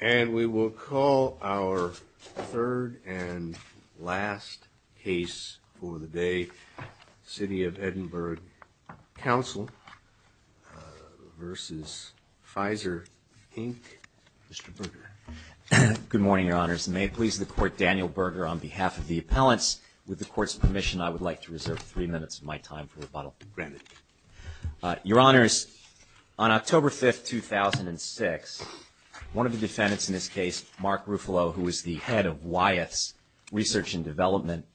And we will call our third and last case for the day, City of Edinburgh Council versus Pfizer Inc. Mr. Berger. Good morning, Your Honors. May it please the Court, Daniel Berger on behalf of the appellants. With the Court's permission, I would like to reserve three minutes of my time for rebuttal. Your Honors, on October 5, 2006, one of the defendants in this case, Mark Ruffalo, who was the head of Wyeth's Research and Development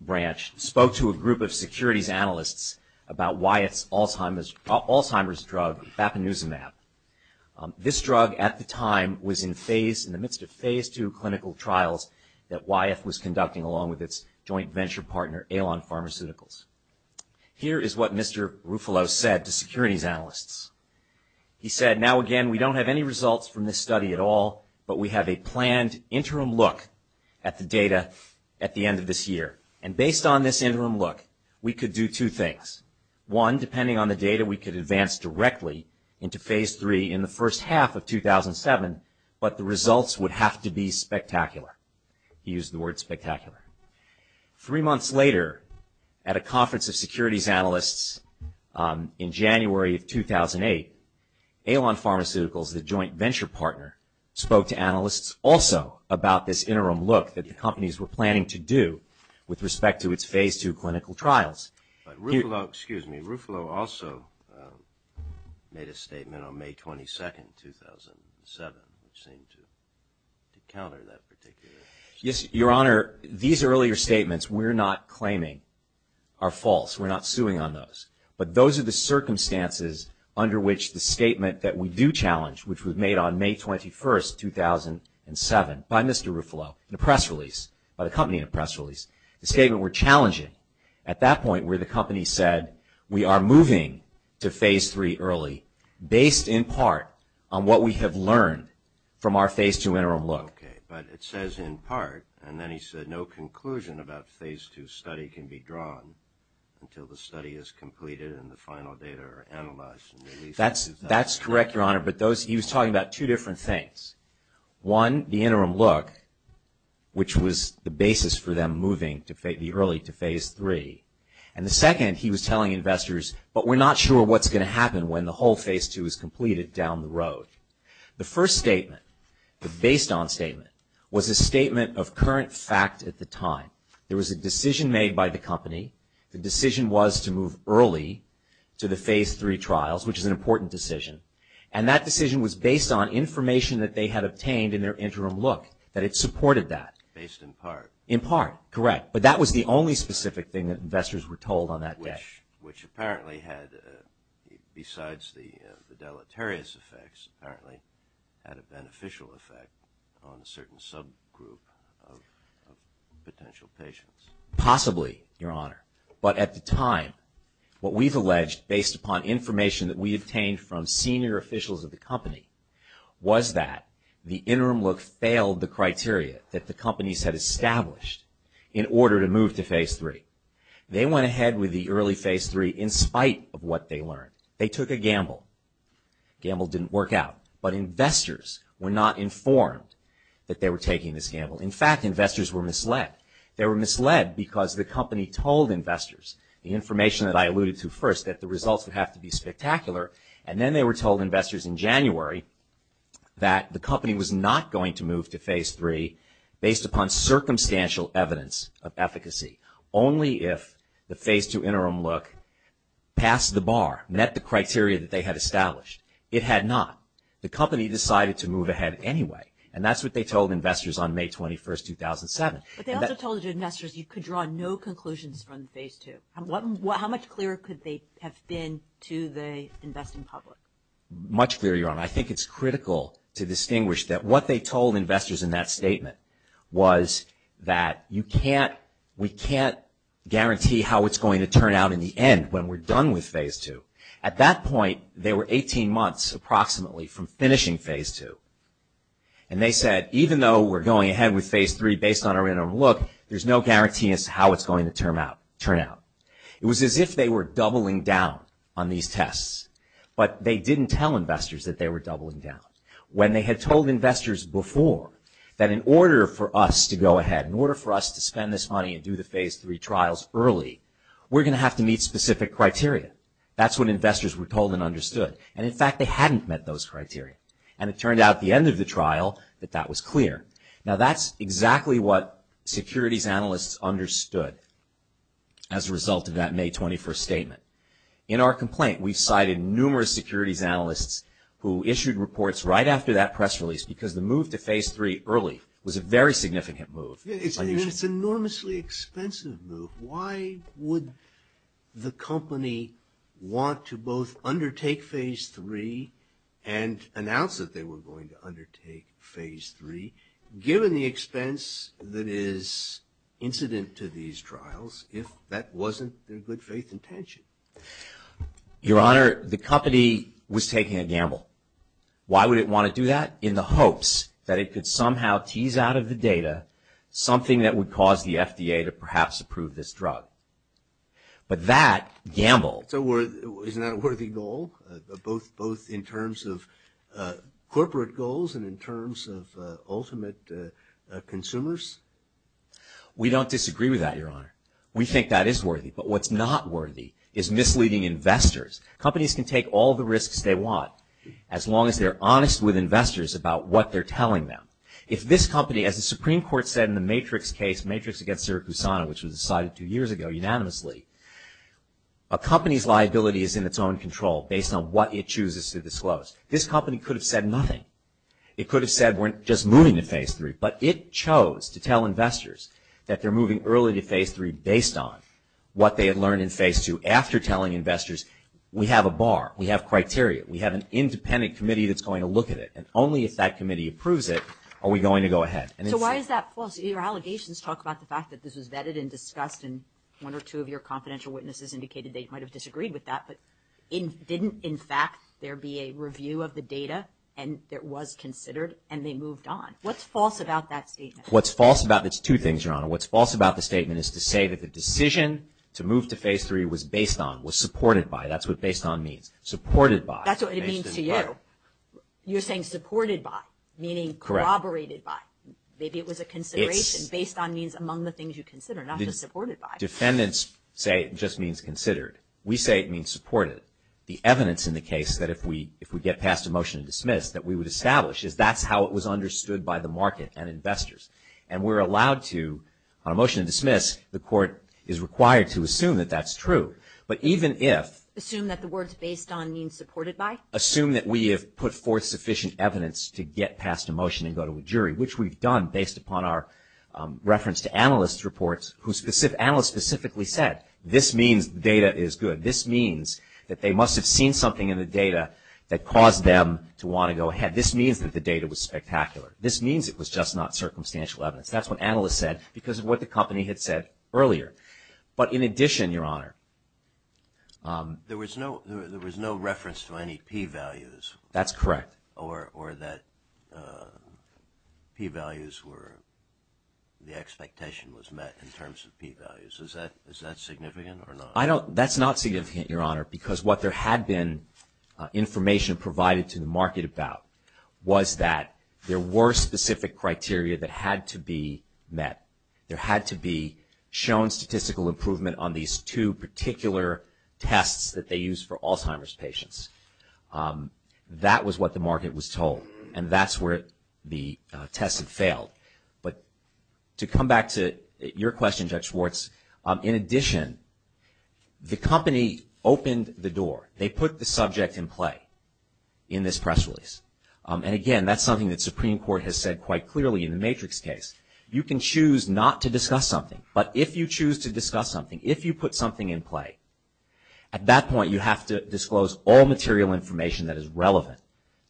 Branch, spoke to a group of securities analysts about Wyeth's Alzheimer's drug, Bapinezumab. This drug, at the time, was in the midst of Phase II clinical trials that Wyeth was conducting along with its joint venture partner, Alon Pharmaceuticals. Here is what Mr. Ruffalo said to securities analysts. He said, now again, we don't have any results from this study at all, but we have a planned interim look at the data at the end of this year. And based on this interim look, we could do two things. One, depending on the data, we could advance directly into Phase III in the first half of 2007, but the results would have to be spectacular. He used the word spectacular. Three months later, at a conference of securities analysts in January of 2008, Alon Pharmaceuticals, the joint venture partner, spoke to analysts also about this interim look that the companies were planning to do with respect to its Phase II clinical trials. Ruffalo also made a statement on May 22, 2007, which seemed to counter that particular statement. Your Honor, these earlier statements we're not claiming are false. We're not suing on those. But those are the circumstances under which the statement that we do challenge, which was made on May 21, 2007, by Mr. Ruffalo in a press release, by the company in a press release, the statement we're challenging. At that point, where the company said, we are moving to Phase III early, based in part on what we have learned from our Phase II interim look. Okay, but it says in part, and then he said no conclusion about Phase II study can be drawn until the study is completed and the final data are analyzed and released in 2007. That's correct, Your Honor, but those, he was talking about two different things. One, the interim look, which was the basis for them moving early to Phase III. And the second, he was telling investors, but we're not sure what's going to happen when the whole Phase II is completed down the road. The first statement, the based on statement, was a statement of current fact at the time. There was a decision made by the company. The decision was to move early to the Phase III trials, which is an important decision. And that decision was based on information that they had obtained in their interim look, that it supported that. Based in part. In part, correct. But that was the only specific thing that investors were told on that day. Which apparently had, besides the deleterious effects, apparently had a beneficial effect on a certain subgroup of potential patients. Possibly, Your Honor. But at the time, what we've alleged based upon information that we obtained from senior officials of the company was that the interim look failed the criteria that the companies had established in order to move to Phase III. They went ahead with the early Phase III in spite of what they learned. They took a gamble. Gamble didn't work out. But investors were not informed that they were taking this gamble. In fact, investors were misled. They were misled because the company told investors, the information that I alluded to first, that the results would have to be spectacular. And then they were told, investors, in January, that the company was not going to move to Phase III based upon circumstantial evidence of efficacy. Only if the Phase II interim look passed the bar, met the criteria that they had established. It had not. The company decided to move ahead anyway. And that's what they told investors on May 21, 2007. But they also told investors you could draw no conclusions from Phase II. How much clearer could they have been to the investing public? Much clearer, Your Honor. I think it's critical to distinguish that what they told investors in that statement was that you can't, we can't guarantee how it's going to turn out in the end when we're done with Phase II. At that point, they were 18 months approximately from finishing Phase II. And they said, even though we're going ahead with Phase III based on our interim look, there's no guarantee as to how it's going to turn out. It was as if they were doubling down on these tests. But they didn't tell investors that they were doubling down. When they had told investors before that in order for us to go ahead, in order for us to spend this money and do the Phase III trials early, we're going to have to meet specific criteria. That's what investors were told and understood. And in fact, they hadn't met those criteria. And it turned out at the end of the trial that that was clear. Now that's exactly what securities analysts understood as a result of that May 21st statement. In our complaint, we cited numerous securities analysts who issued reports right after that press release because the move to Phase III early was a very significant move. It's an enormously expensive move. Why would the company want to both undertake Phase III and announce that they were going to undertake Phase III, given the expense that is incident to these trials, if that wasn't their good faith intention? Your Honor, the company was taking a gamble. Why would it want to do that? In the hopes that it could somehow tease out of the data something that would cause the drug. But that gamble... Isn't that a worthy goal, both in terms of corporate goals and in terms of ultimate consumers? We don't disagree with that, Your Honor. We think that is worthy. But what's not worthy is misleading investors. Companies can take all the risks they want, as long as they're honest with investors about what they're telling them. If this company, as the Supreme Court said in the Matrix case, Matrix against Siricusana, which was decided two years ago unanimously, a company's liability is in its own control based on what it chooses to disclose. This company could have said nothing. It could have said, we're just moving to Phase III. But it chose to tell investors that they're moving early to Phase III based on what they had learned in Phase II, after telling investors, we have a bar. We have criteria. We have an independent committee that's going to look at it. And only if that committee approves it are we going to go ahead. So why is that false? Your allegations talk about the fact that this was vetted and discussed, and one or two of your confidential witnesses indicated they might have disagreed with that, but didn't, in fact, there be a review of the data, and it was considered, and they moved on. What's false about that statement? What's false about it's two things, Your Honor. What's false about the statement is to say that the decision to move to Phase III was based on, was supported by, that's what based on means. Supported by. That's what it means to you. You're saying supported by, meaning corroborated by. Correct. Maybe it was a consideration based on means among the things you consider, not just supported by. Defendants say it just means considered. We say it means supported. The evidence in the case that if we get past a motion to dismiss that we would establish is that's how it was understood by the market and investors. And we're allowed to, on a motion to dismiss, the court is required to assume that that's true. But even if. Assume that the words based on means supported by? Assume that we have put forth sufficient evidence to get past a motion and go to a jury, which we've done based upon our reference to analyst reports who, analysts specifically said this means data is good. This means that they must have seen something in the data that caused them to want to go ahead. This means that the data was spectacular. This means it was just not circumstantial evidence. That's what analysts said because of what the company had said earlier. But in addition, Your Honor. There was no, there was no reference to any P values. That's correct. Or that P values were, the expectation was met in terms of P values. Is that significant or not? That's not significant, Your Honor, because what there had been information provided to the market about was that there were specific criteria that had to be met. There had to be shown statistical improvement on these two particular tests that they used for Alzheimer's patients. That was what the market was told. And that's where the test had failed. But to come back to your question, Judge Schwartz, in addition, the company opened the door. They put the subject in play in this press release. And again, that's something that Supreme Court has said quite clearly in the Matrix case. You can choose not to discuss something. But if you choose to discuss something, if you put something in play, at that point you have to disclose all material information that is relevant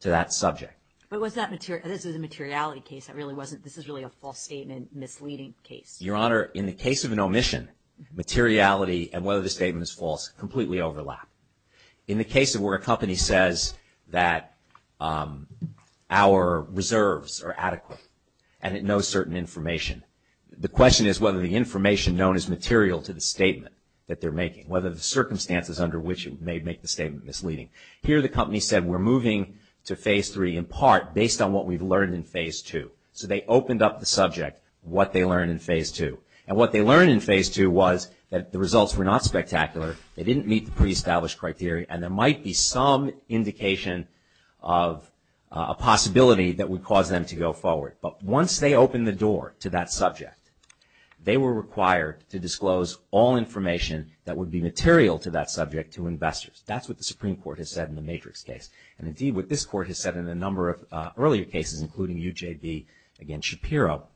to that subject. But was that material, this is a materiality case. That really wasn't, this is really a false statement, misleading case. Your Honor, in the case of an omission, materiality and whether the statement is false completely overlap. In the case of where a company says that our reserves are adequate and it knows certain information, the question is whether the information known as material to the statement that they're making, they make the statement misleading. Here the company said we're moving to Phase 3 in part based on what we've learned in Phase 2. So they opened up the subject, what they learned in Phase 2. And what they learned in Phase 2 was that the results were not spectacular, they didn't meet the pre-established criteria, and there might be some indication of a possibility that would cause them to go forward. But once they opened the door to that subject, they were required to disclose all information that would be material to that subject to investors. That's what the Supreme Court has said in the Matrix case. And indeed what this Court has said in a number of earlier cases, including UJB against Shapiro.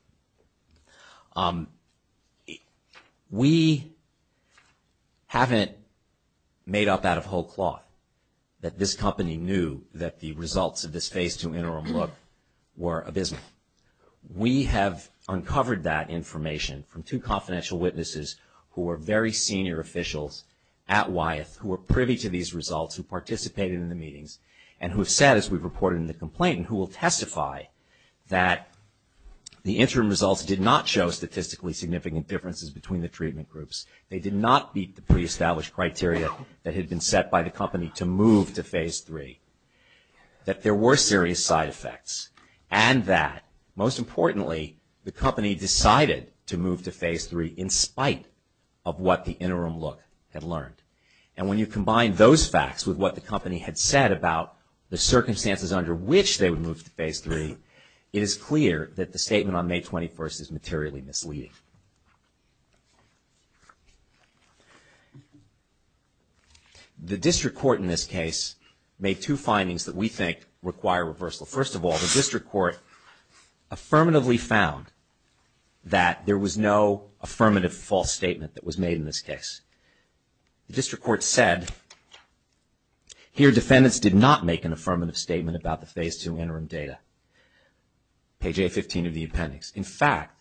We haven't made up out of whole cloth that this company knew that the results of this Phase 2 interim look were abysmal. We have uncovered that information from two confidential witnesses who were very senior officials at Wyeth who were privy to these results, who participated in the meetings, and who have said, as we've reported in the complaint, and who will testify that the interim results did not show statistically significant differences between the treatment groups. They did not meet the pre-established criteria that had been set by the company to move to Phase 3. That there were serious side effects, and that, most importantly, the company decided to move to Phase 3 in spite of what the interim look had learned. And when you combine those facts with what the company had said about the circumstances under which they would move to Phase 3, it is clear that the statement on May 21st is materially misleading. The district court in this case made two findings that we think require reversal. First of all, the district court affirmatively found that there was no affirmative false statement that was made in this case. The district court said, here defendants did not make an affirmative statement about the Phase 2 interim data, page A15 of the appendix. In fact,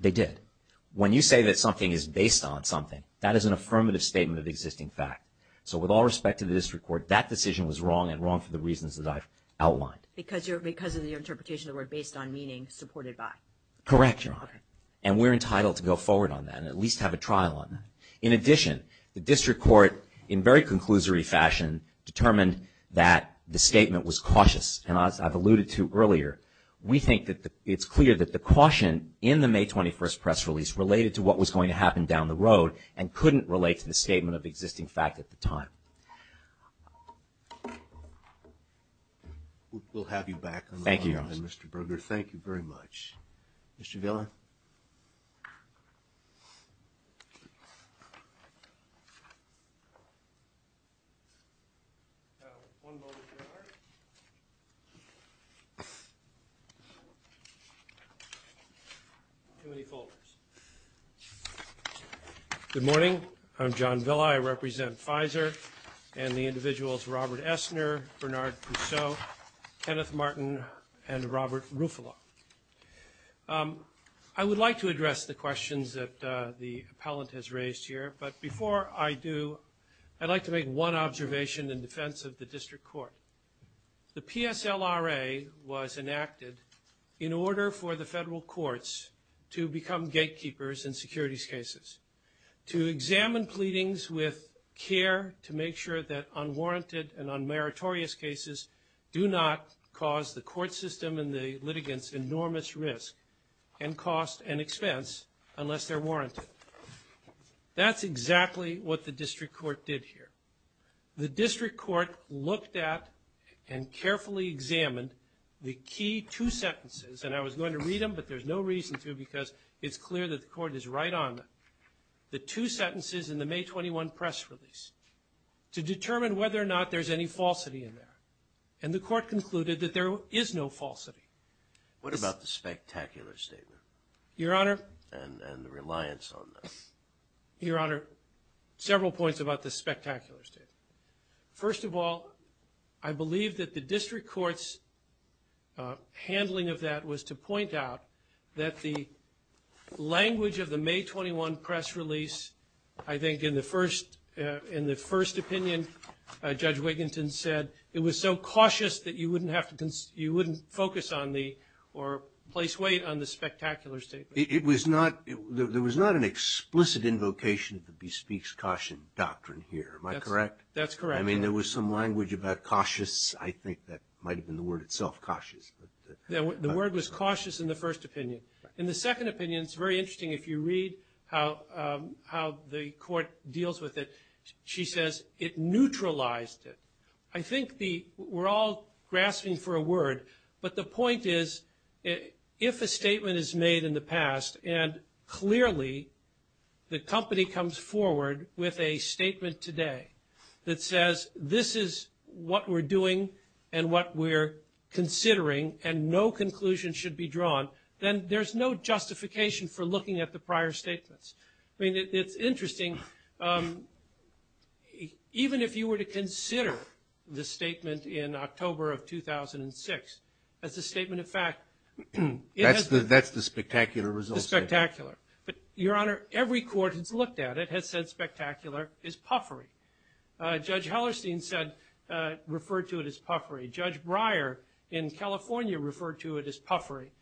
they did. When you say that something is based on something, that is an affirmative statement of existing fact. So with all respect to the district court, that decision was wrong and wrong for the reasons that I've outlined. Because of your interpretation of the word based on meaning supported by. Correct, Your Honor. And we're entitled to go forward on that and at least have a trial on that. In addition, the district court, in very conclusory fashion, determined that the statement was cautious. And as I've alluded to earlier, we think that it's clear that the caution in the May 21st press release related to what was going to happen down the road and couldn't relate to the statement of existing fact at the time. We'll have you back on the phone then, Mr. Berger. Thank you very much. Mr. Villan. One moment, Your Honor. Too many folders. Good morning. I'm John Villa. I represent FISER and the individuals Robert Essner, Bernard Pousseau, Kenneth Martin, and Robert Ruffalo. I would like to address the questions that the appellant has raised here. But before I do, I'd like to make one observation in defense of the district court. The PSLRA was enacted in order for the federal courts to become gatekeepers in securities cases, to examine pleadings with care to make sure that unwarranted and unmeritorious cases do not cause the court system and the litigants enormous risk and cost and expense unless they're warranted. That's exactly what the district court did here. The district court looked at and carefully examined the key two sentences, and I was going to read them, but there's no reason to because it's clear that the court is right on the two sentences in the May 21 press release, to determine whether or not there's any falsity in there. And the court concluded that there is no falsity. What about the spectacular statement? Your Honor. And the reliance on that? Your Honor, several points about the spectacular statement. First of all, I believe that the district court's handling of that was to point out that the language of the May 21 press release, I think in the first opinion, Judge Wiginton said it was so cautious that you wouldn't focus on the, or place weight on the spectacular statement. It was not, there was not an explicit invocation of the bespeaks caution doctrine here. Am I correct? That's correct. I mean, there was some language about cautious. I think that might have been the word itself, cautious. The word was cautious in the first opinion. In the second opinion, it's very interesting if you read how the court deals with it. She says it neutralized it. I think the, we're all grasping for a word, but the point is, if a statement is made in the past, and clearly the company comes forward with a statement today that says, this is what we're doing and what we're considering, and no conclusion should be drawn, then there's no justification for looking at the prior statements. I mean, it's interesting. Even if you were to consider the statement in October of 2006 as a statement of fact. That's the spectacular result. Spectacular. Your Honor, every court that's looked at it has said spectacular is puffery. Judge Hellerstein said, referred to it as puffery. Judge Breyer in California referred to it as puffery.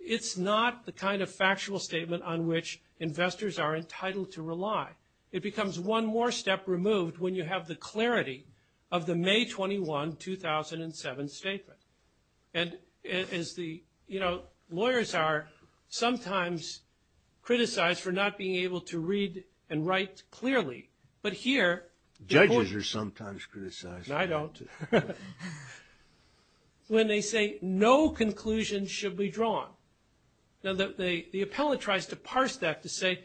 It's not the kind of factual statement on which investors are entitled to rely. It becomes one more step removed when you have the clarity of the May 21, 2007 statement. And as the lawyers are sometimes criticized for not being able to read and write clearly. But here... Judges are sometimes criticized. I don't. When they say, no conclusion should be drawn, the appellate tries to parse that to say,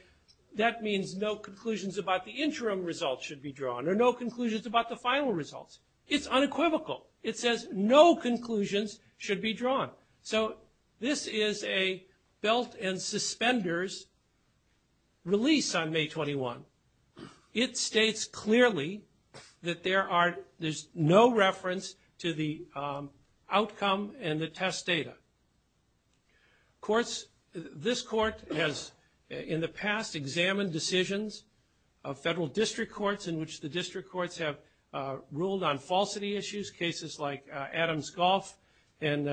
that means no conclusions about the interim results should be drawn, or no conclusions about the final results. It's unequivocal. It says no conclusions should be drawn. So this is a belt and suspenders release on May 21. It states clearly that there's no reference to the outcome and the test data. This court has, in the past, examined decisions of federal district courts in which the district courts have referred to falsity issues. Cases like Adams Golf and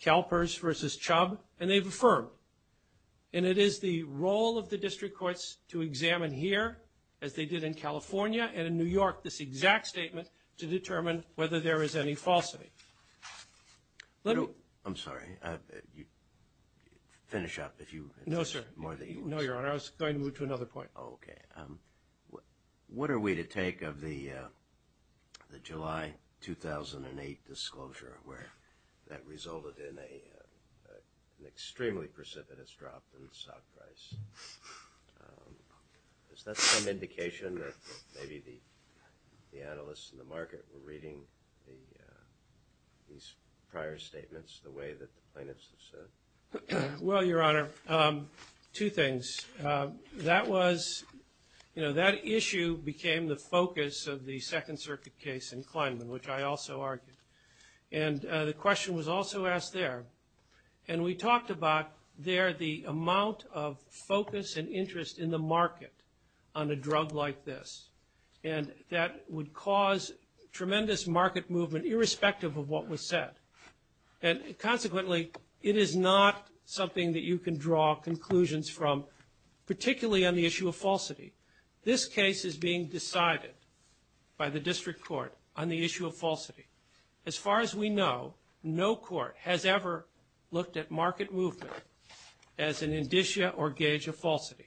CalPERS versus Chubb, and they've affirmed. And it is the role of the district courts to examine here, as they did in California and in New York, this exact statement to determine whether there is any falsity. Let me... I'm sorry. Finish up. If you... No, sir. No, Your Honor. I was going to move to another point. Okay. What are we to take of the July 2008 disclosure, where that resulted in an extremely precipitous drop in the stock price? Is that some indication that maybe the analysts in the market were reading these prior statements the way that the plaintiffs have said? Well, Your Honor, two things. That was... You know, that issue became the focus of the Second Circuit case in Kleinman, which I also argued. And the question was also asked there. And we talked about there the amount of focus and interest in the market on a drug like this. And that would cause tremendous market movement, irrespective of what was said. And consequently, it is not something that you can draw conclusions from, particularly on the issue of falsity. This case is being decided by the District Court on the issue of falsity. As far as we know, no court has ever looked at market movement as an indicia or gauge of falsity.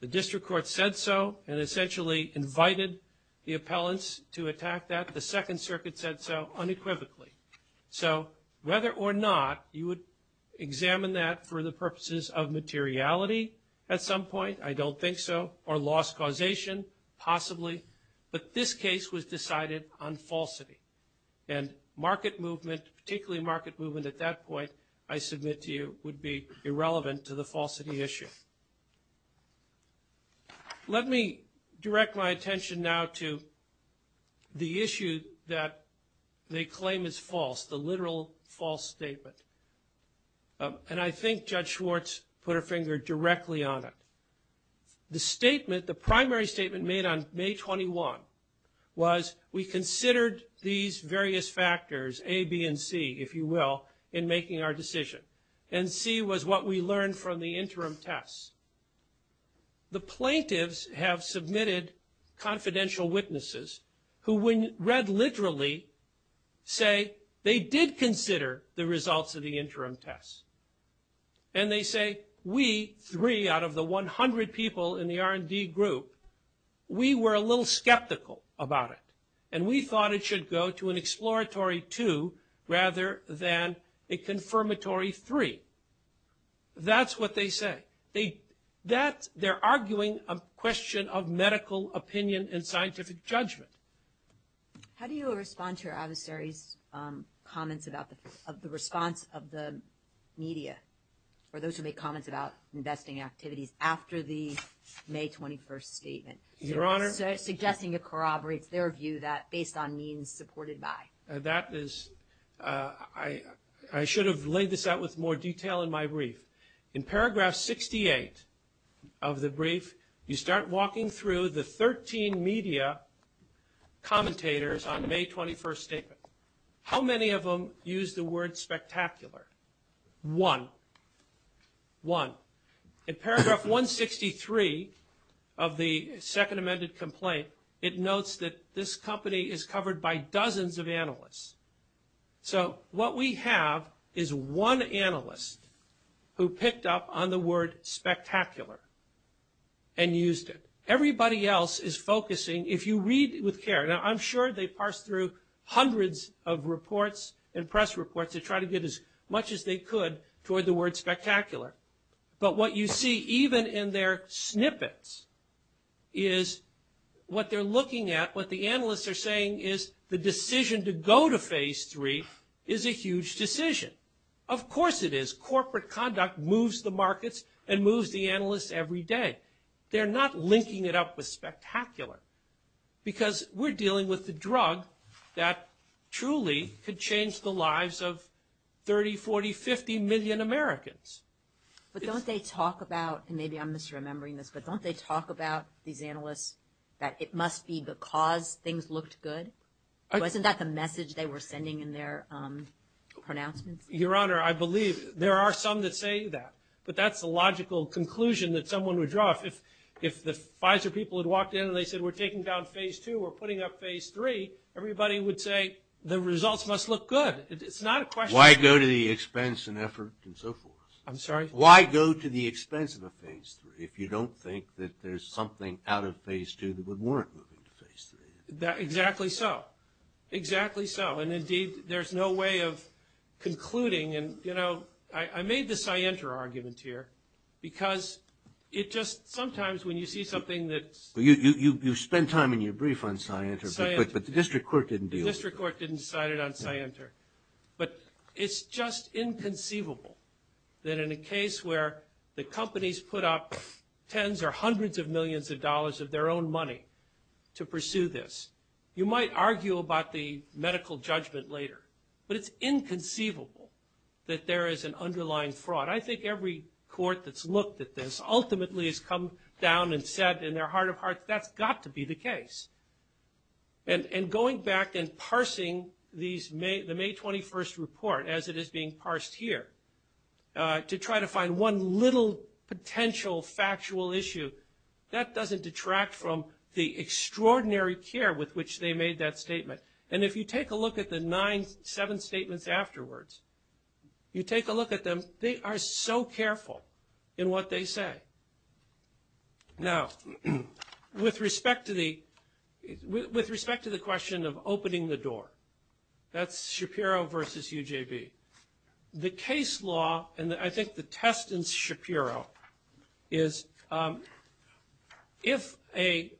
The District Court said so and essentially invited the appellants to attack that. The Second Circuit said so unequivocally. So whether or not you would examine that for the purposes of materiality at some point, I don't think so, or loss causation, possibly. But this case was decided on falsity. And market movement, particularly market movement at that point, I submit to you, would be irrelevant to the falsity issue. Let me direct my attention now to the issue that they claim is false, the literal false statement. And I think Judge Schwartz put her finger directly on it. The statement, the primary statement made on May 21 was we considered these various factors A, B, and C, if you will, in making our decision. And C was what we learned from the interim tests. The plaintiffs have submitted confidential witnesses who when read literally say they did consider the results of the interim tests. And they say, we three out of the 100 people in the R&D group, we were a little skeptical about it. And we thought it should go to an exploratory two rather than a confirmatory three. That's what they say. They're arguing a question of medical opinion and scientific judgment. How do you respond to your adversary's comments about the response of the media or those who make comments about investing activities after the May 21 statement? Your Honor? They're suggesting it corroborates their view that based on means supported by. That is – I should have laid this out with more detail in my brief. In paragraph 68 of the brief, you start walking through the 13 media commentators on the May 21 statement. How many of them use the word spectacular? One. One. In paragraph 163 of the second amended complaint, it notes that this company is covered by dozens of analysts. So what we have is one analyst who picked up on the word spectacular and used it. Everybody else is focusing – if you read with care – now, I'm sure they parsed through hundreds of reports and press reports to try to get as much as they could toward the word spectacular. But what you see even in their snippets is what they're looking at, what the analysts are saying is the decision to go to phase three is a huge decision. Of course it is. Corporate conduct moves the markets and moves the analysts every day. They're not linking it up with spectacular because we're dealing with the drug that truly could change the lives of 30, 40, 50 million Americans. But don't they talk about – and maybe I'm misremembering this – but don't they talk about these analysts that it must be because things looked good? Wasn't that the message they were sending in their pronouncements? Your Honor, I believe there are some that say that. But that's the logical conclusion that someone would draw. If the Pfizer people had walked in and they said we're taking down phase two or putting up phase three, everybody would say the results must look good. It's not a question of – Why go to the expense and effort and so forth? I'm sorry? Why go to the expense of a phase three if you don't think that there's something out of phase two that would warrant moving to phase three? Exactly so. Exactly so. And indeed, there's no way of concluding. And I made the Scienter argument here because it just – sometimes when you see something that's – Well, you spent time in your brief on Scienter, but the district court didn't deal with it. The district court didn't cite it on Scienter. But it's just inconceivable that in a case where the companies put up tens or hundreds of millions of dollars of their own money to pursue this – you might argue about the medical judgment later, but it's inconceivable that there is an underlying fraud. I think every court that's looked at this ultimately has come down and said in their heart of hearts, that's got to be the case. And going back and parsing the May 21st report as it is being parsed here to try to find one little potential factual issue, that doesn't detract from the extraordinary care with which they made that statement. And if you take a look at the nine, seven statements afterwards, you take a look at them, they are so careful in what they say. Now, with respect to the – with respect to the question of opening the door, that's Shapiro versus UJB. The case law, and I think the test in Shapiro, is if a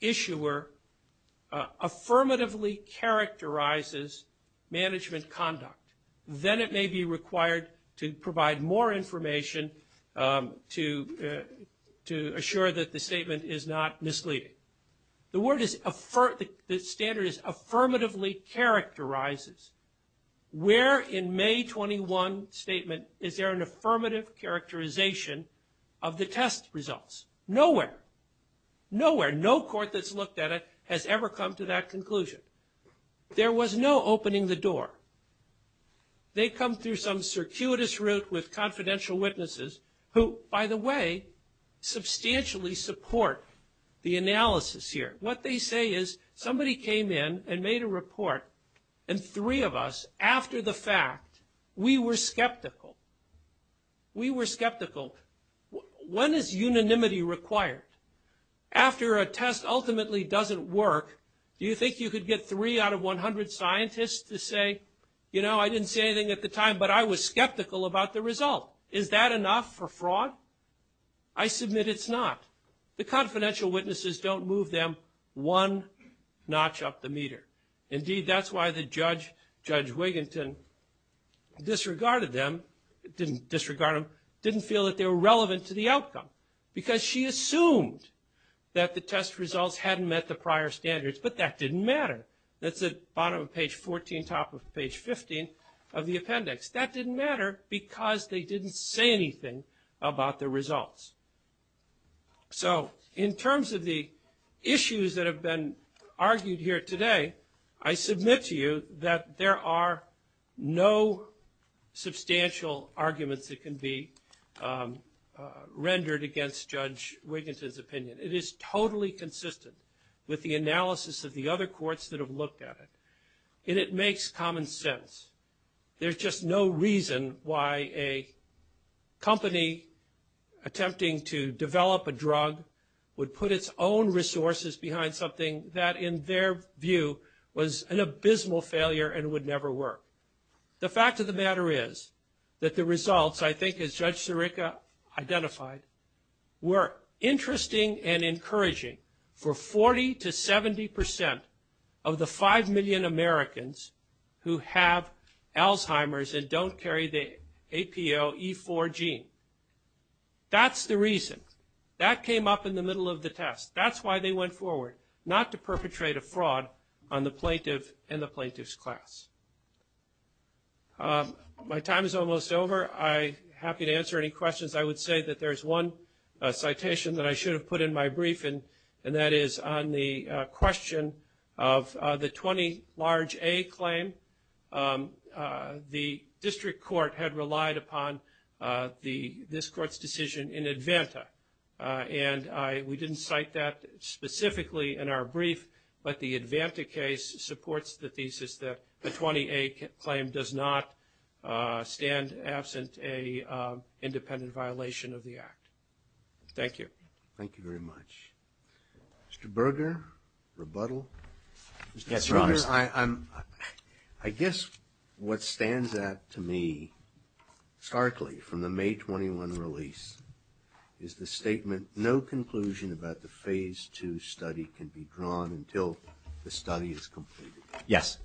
issuer affirmatively characterizes management conduct, then it may be required to provide more information to assure that the statement is not misleading. The word is – the standard is affirmatively characterizes. Where in May 21 statement is there an affirmative characterization of the test results? Nowhere. Nowhere. No court that's looked at it has ever come to that conclusion. There was no opening the door. They come through some circuitous route with confidential witnesses who, by the way, substantially support the analysis here. What they say is somebody came in and made a report, and three of us, after the fact, we were skeptical. We were skeptical. When is unanimity required? After a test ultimately doesn't work, do you think you could get three out of 100 scientists to say, you know, I didn't say anything at the time, but I was skeptical about the result? Is that enough for fraud? I submit it's not. The confidential witnesses don't move them one notch up the meter. Indeed, that's why the judge, Judge Wiginton, disregarded them – didn't disregard them, didn't feel that they were relevant to the outcome because she assumed that the test results hadn't met the prior standards, but that didn't matter. That's at bottom of page 14, top of page 15 of the appendix. That didn't matter because they didn't say anything about the results. So in terms of the issues that have been argued here today, I submit to you that there are no substantial arguments that can be rendered against Judge Wiginton's opinion. It is totally consistent with the analysis of the other courts that have looked at it, and it makes common sense. There's just no reason why a company attempting to develop a drug would put its own resources behind something that, in their view, was an abysmal failure and would never work. The fact of the matter is that the results, I think, as Judge Sirica identified, were interesting and encouraging for 40 to 70 percent of the 5 million Americans who have Alzheimer's and don't carry the APOE4 gene. That's the reason. That came up in the middle of the test. That's why they went forward. Not to perpetrate a fraud on the plaintiff and the plaintiff's class. My time is almost over. I'm happy to answer any questions. I would say that there's one citation that I should have put in my briefing, and that is on the question of the 20 large A claim. The district court had relied upon this court's decision in Advanta, and we didn't cite that specifically in our brief, but the Advanta case supports the thesis that the 20 A claim does not stand absent a independent violation of the act. Thank you. Thank you very much. Mr. Berger, rebuttal? Yes, Your Honor. Mr. Berger, I guess what stands out to me starkly from the May 21 release is the statement that no conclusion about the Phase 2 study can be drawn until the study is completed. Yes.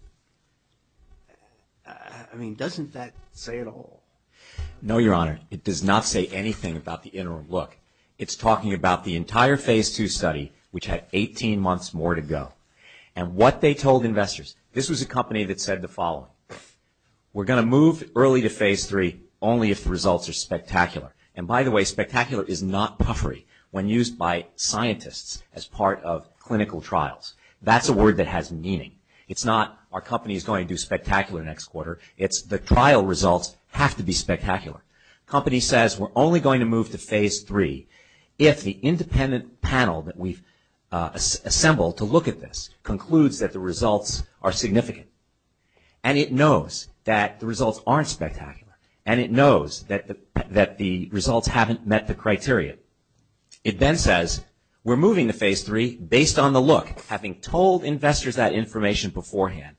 I mean, doesn't that say it all? No, Your Honor. It does not say anything about the interim look. It's talking about the entire Phase 2 study, which had 18 months more to go, and what they told investors. This was a company that said the following, we're going to move early to Phase 3 only if the results are spectacular. By the way, spectacular is not puffery when used by scientists as part of clinical trials. That's a word that has meaning. It's not our company is going to do spectacular next quarter. It's the trial results have to be spectacular. Company says we're only going to move to Phase 3 if the independent panel that we've assembled to look at this concludes that the results are significant, and it knows that the results haven't met the criteria. It then says, we're moving to Phase 3 based on the look, having told investors that information beforehand.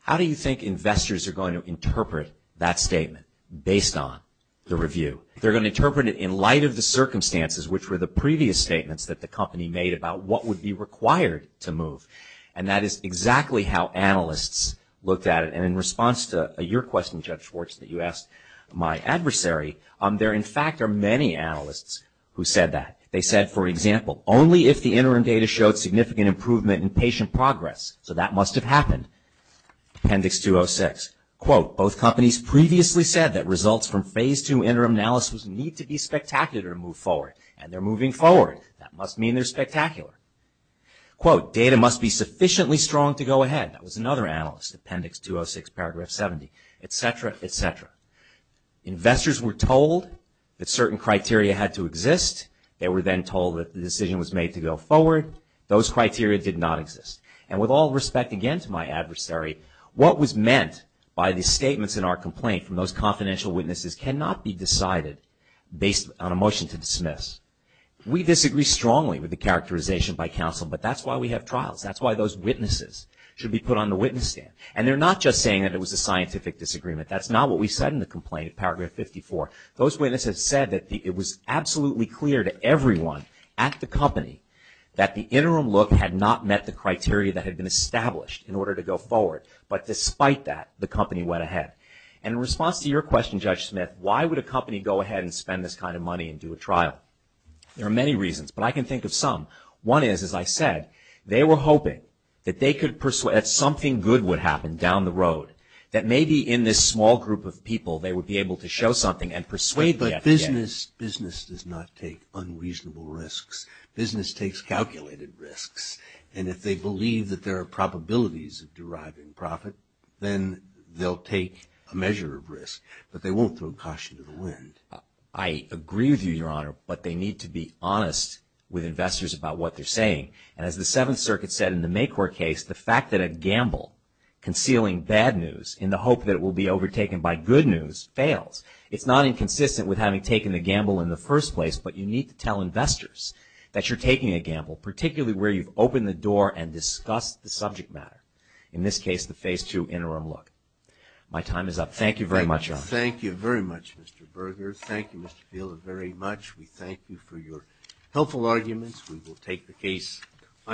How do you think investors are going to interpret that statement based on the review? They're going to interpret it in light of the circumstances, which were the previous statements that the company made about what would be required to move, and that is exactly how analysts looked at it, and in response to your question, Judge Schwartz, that you There, in fact, are many analysts who said that. They said, for example, only if the interim data showed significant improvement in patient progress, so that must have happened, Appendix 206. Both companies previously said that results from Phase 2 interim analysis need to be spectacular to move forward, and they're moving forward. That must mean they're spectacular. Data must be sufficiently strong to go ahead. That was another analyst, Appendix 206, Paragraph 70, et cetera, et cetera. Investors were told that certain criteria had to exist. They were then told that the decision was made to go forward. Those criteria did not exist, and with all respect, again, to my adversary, what was meant by the statements in our complaint from those confidential witnesses cannot be decided based on a motion to dismiss. We disagree strongly with the characterization by counsel, but that's why we have trials. That's why those witnesses should be put on the witness stand, and they're not just saying that it was a scientific disagreement. That's not what we said in the complaint, Paragraph 54. Those witnesses said that it was absolutely clear to everyone at the company that the interim look had not met the criteria that had been established in order to go forward, but despite that, the company went ahead. In response to your question, Judge Smith, why would a company go ahead and spend this kind of money and do a trial? There are many reasons, but I can think of some. One is, as I said, they were hoping that something good would happen down the road that maybe in this small group of people, they would be able to show something and persuade the FDA. But business does not take unreasonable risks. Business takes calculated risks, and if they believe that there are probabilities of deriving profit, then they'll take a measure of risk, but they won't throw caution to the wind. I agree with you, Your Honor, but they need to be honest with investors about what they're saying, and as the Seventh Circuit said in the Maycourt case, the fact that a gamble concealing bad news in the hope that it will be overtaken by good news fails. It's not inconsistent with having taken the gamble in the first place, but you need to tell investors that you're taking a gamble, particularly where you've opened the door and discussed the subject matter, in this case, the Phase II interim look. My time is up. Thank you very much, Your Honor. Thank you very much, Mr. Berger. Thank you, Mr. Fielder, very much. We thank you for your helpful arguments.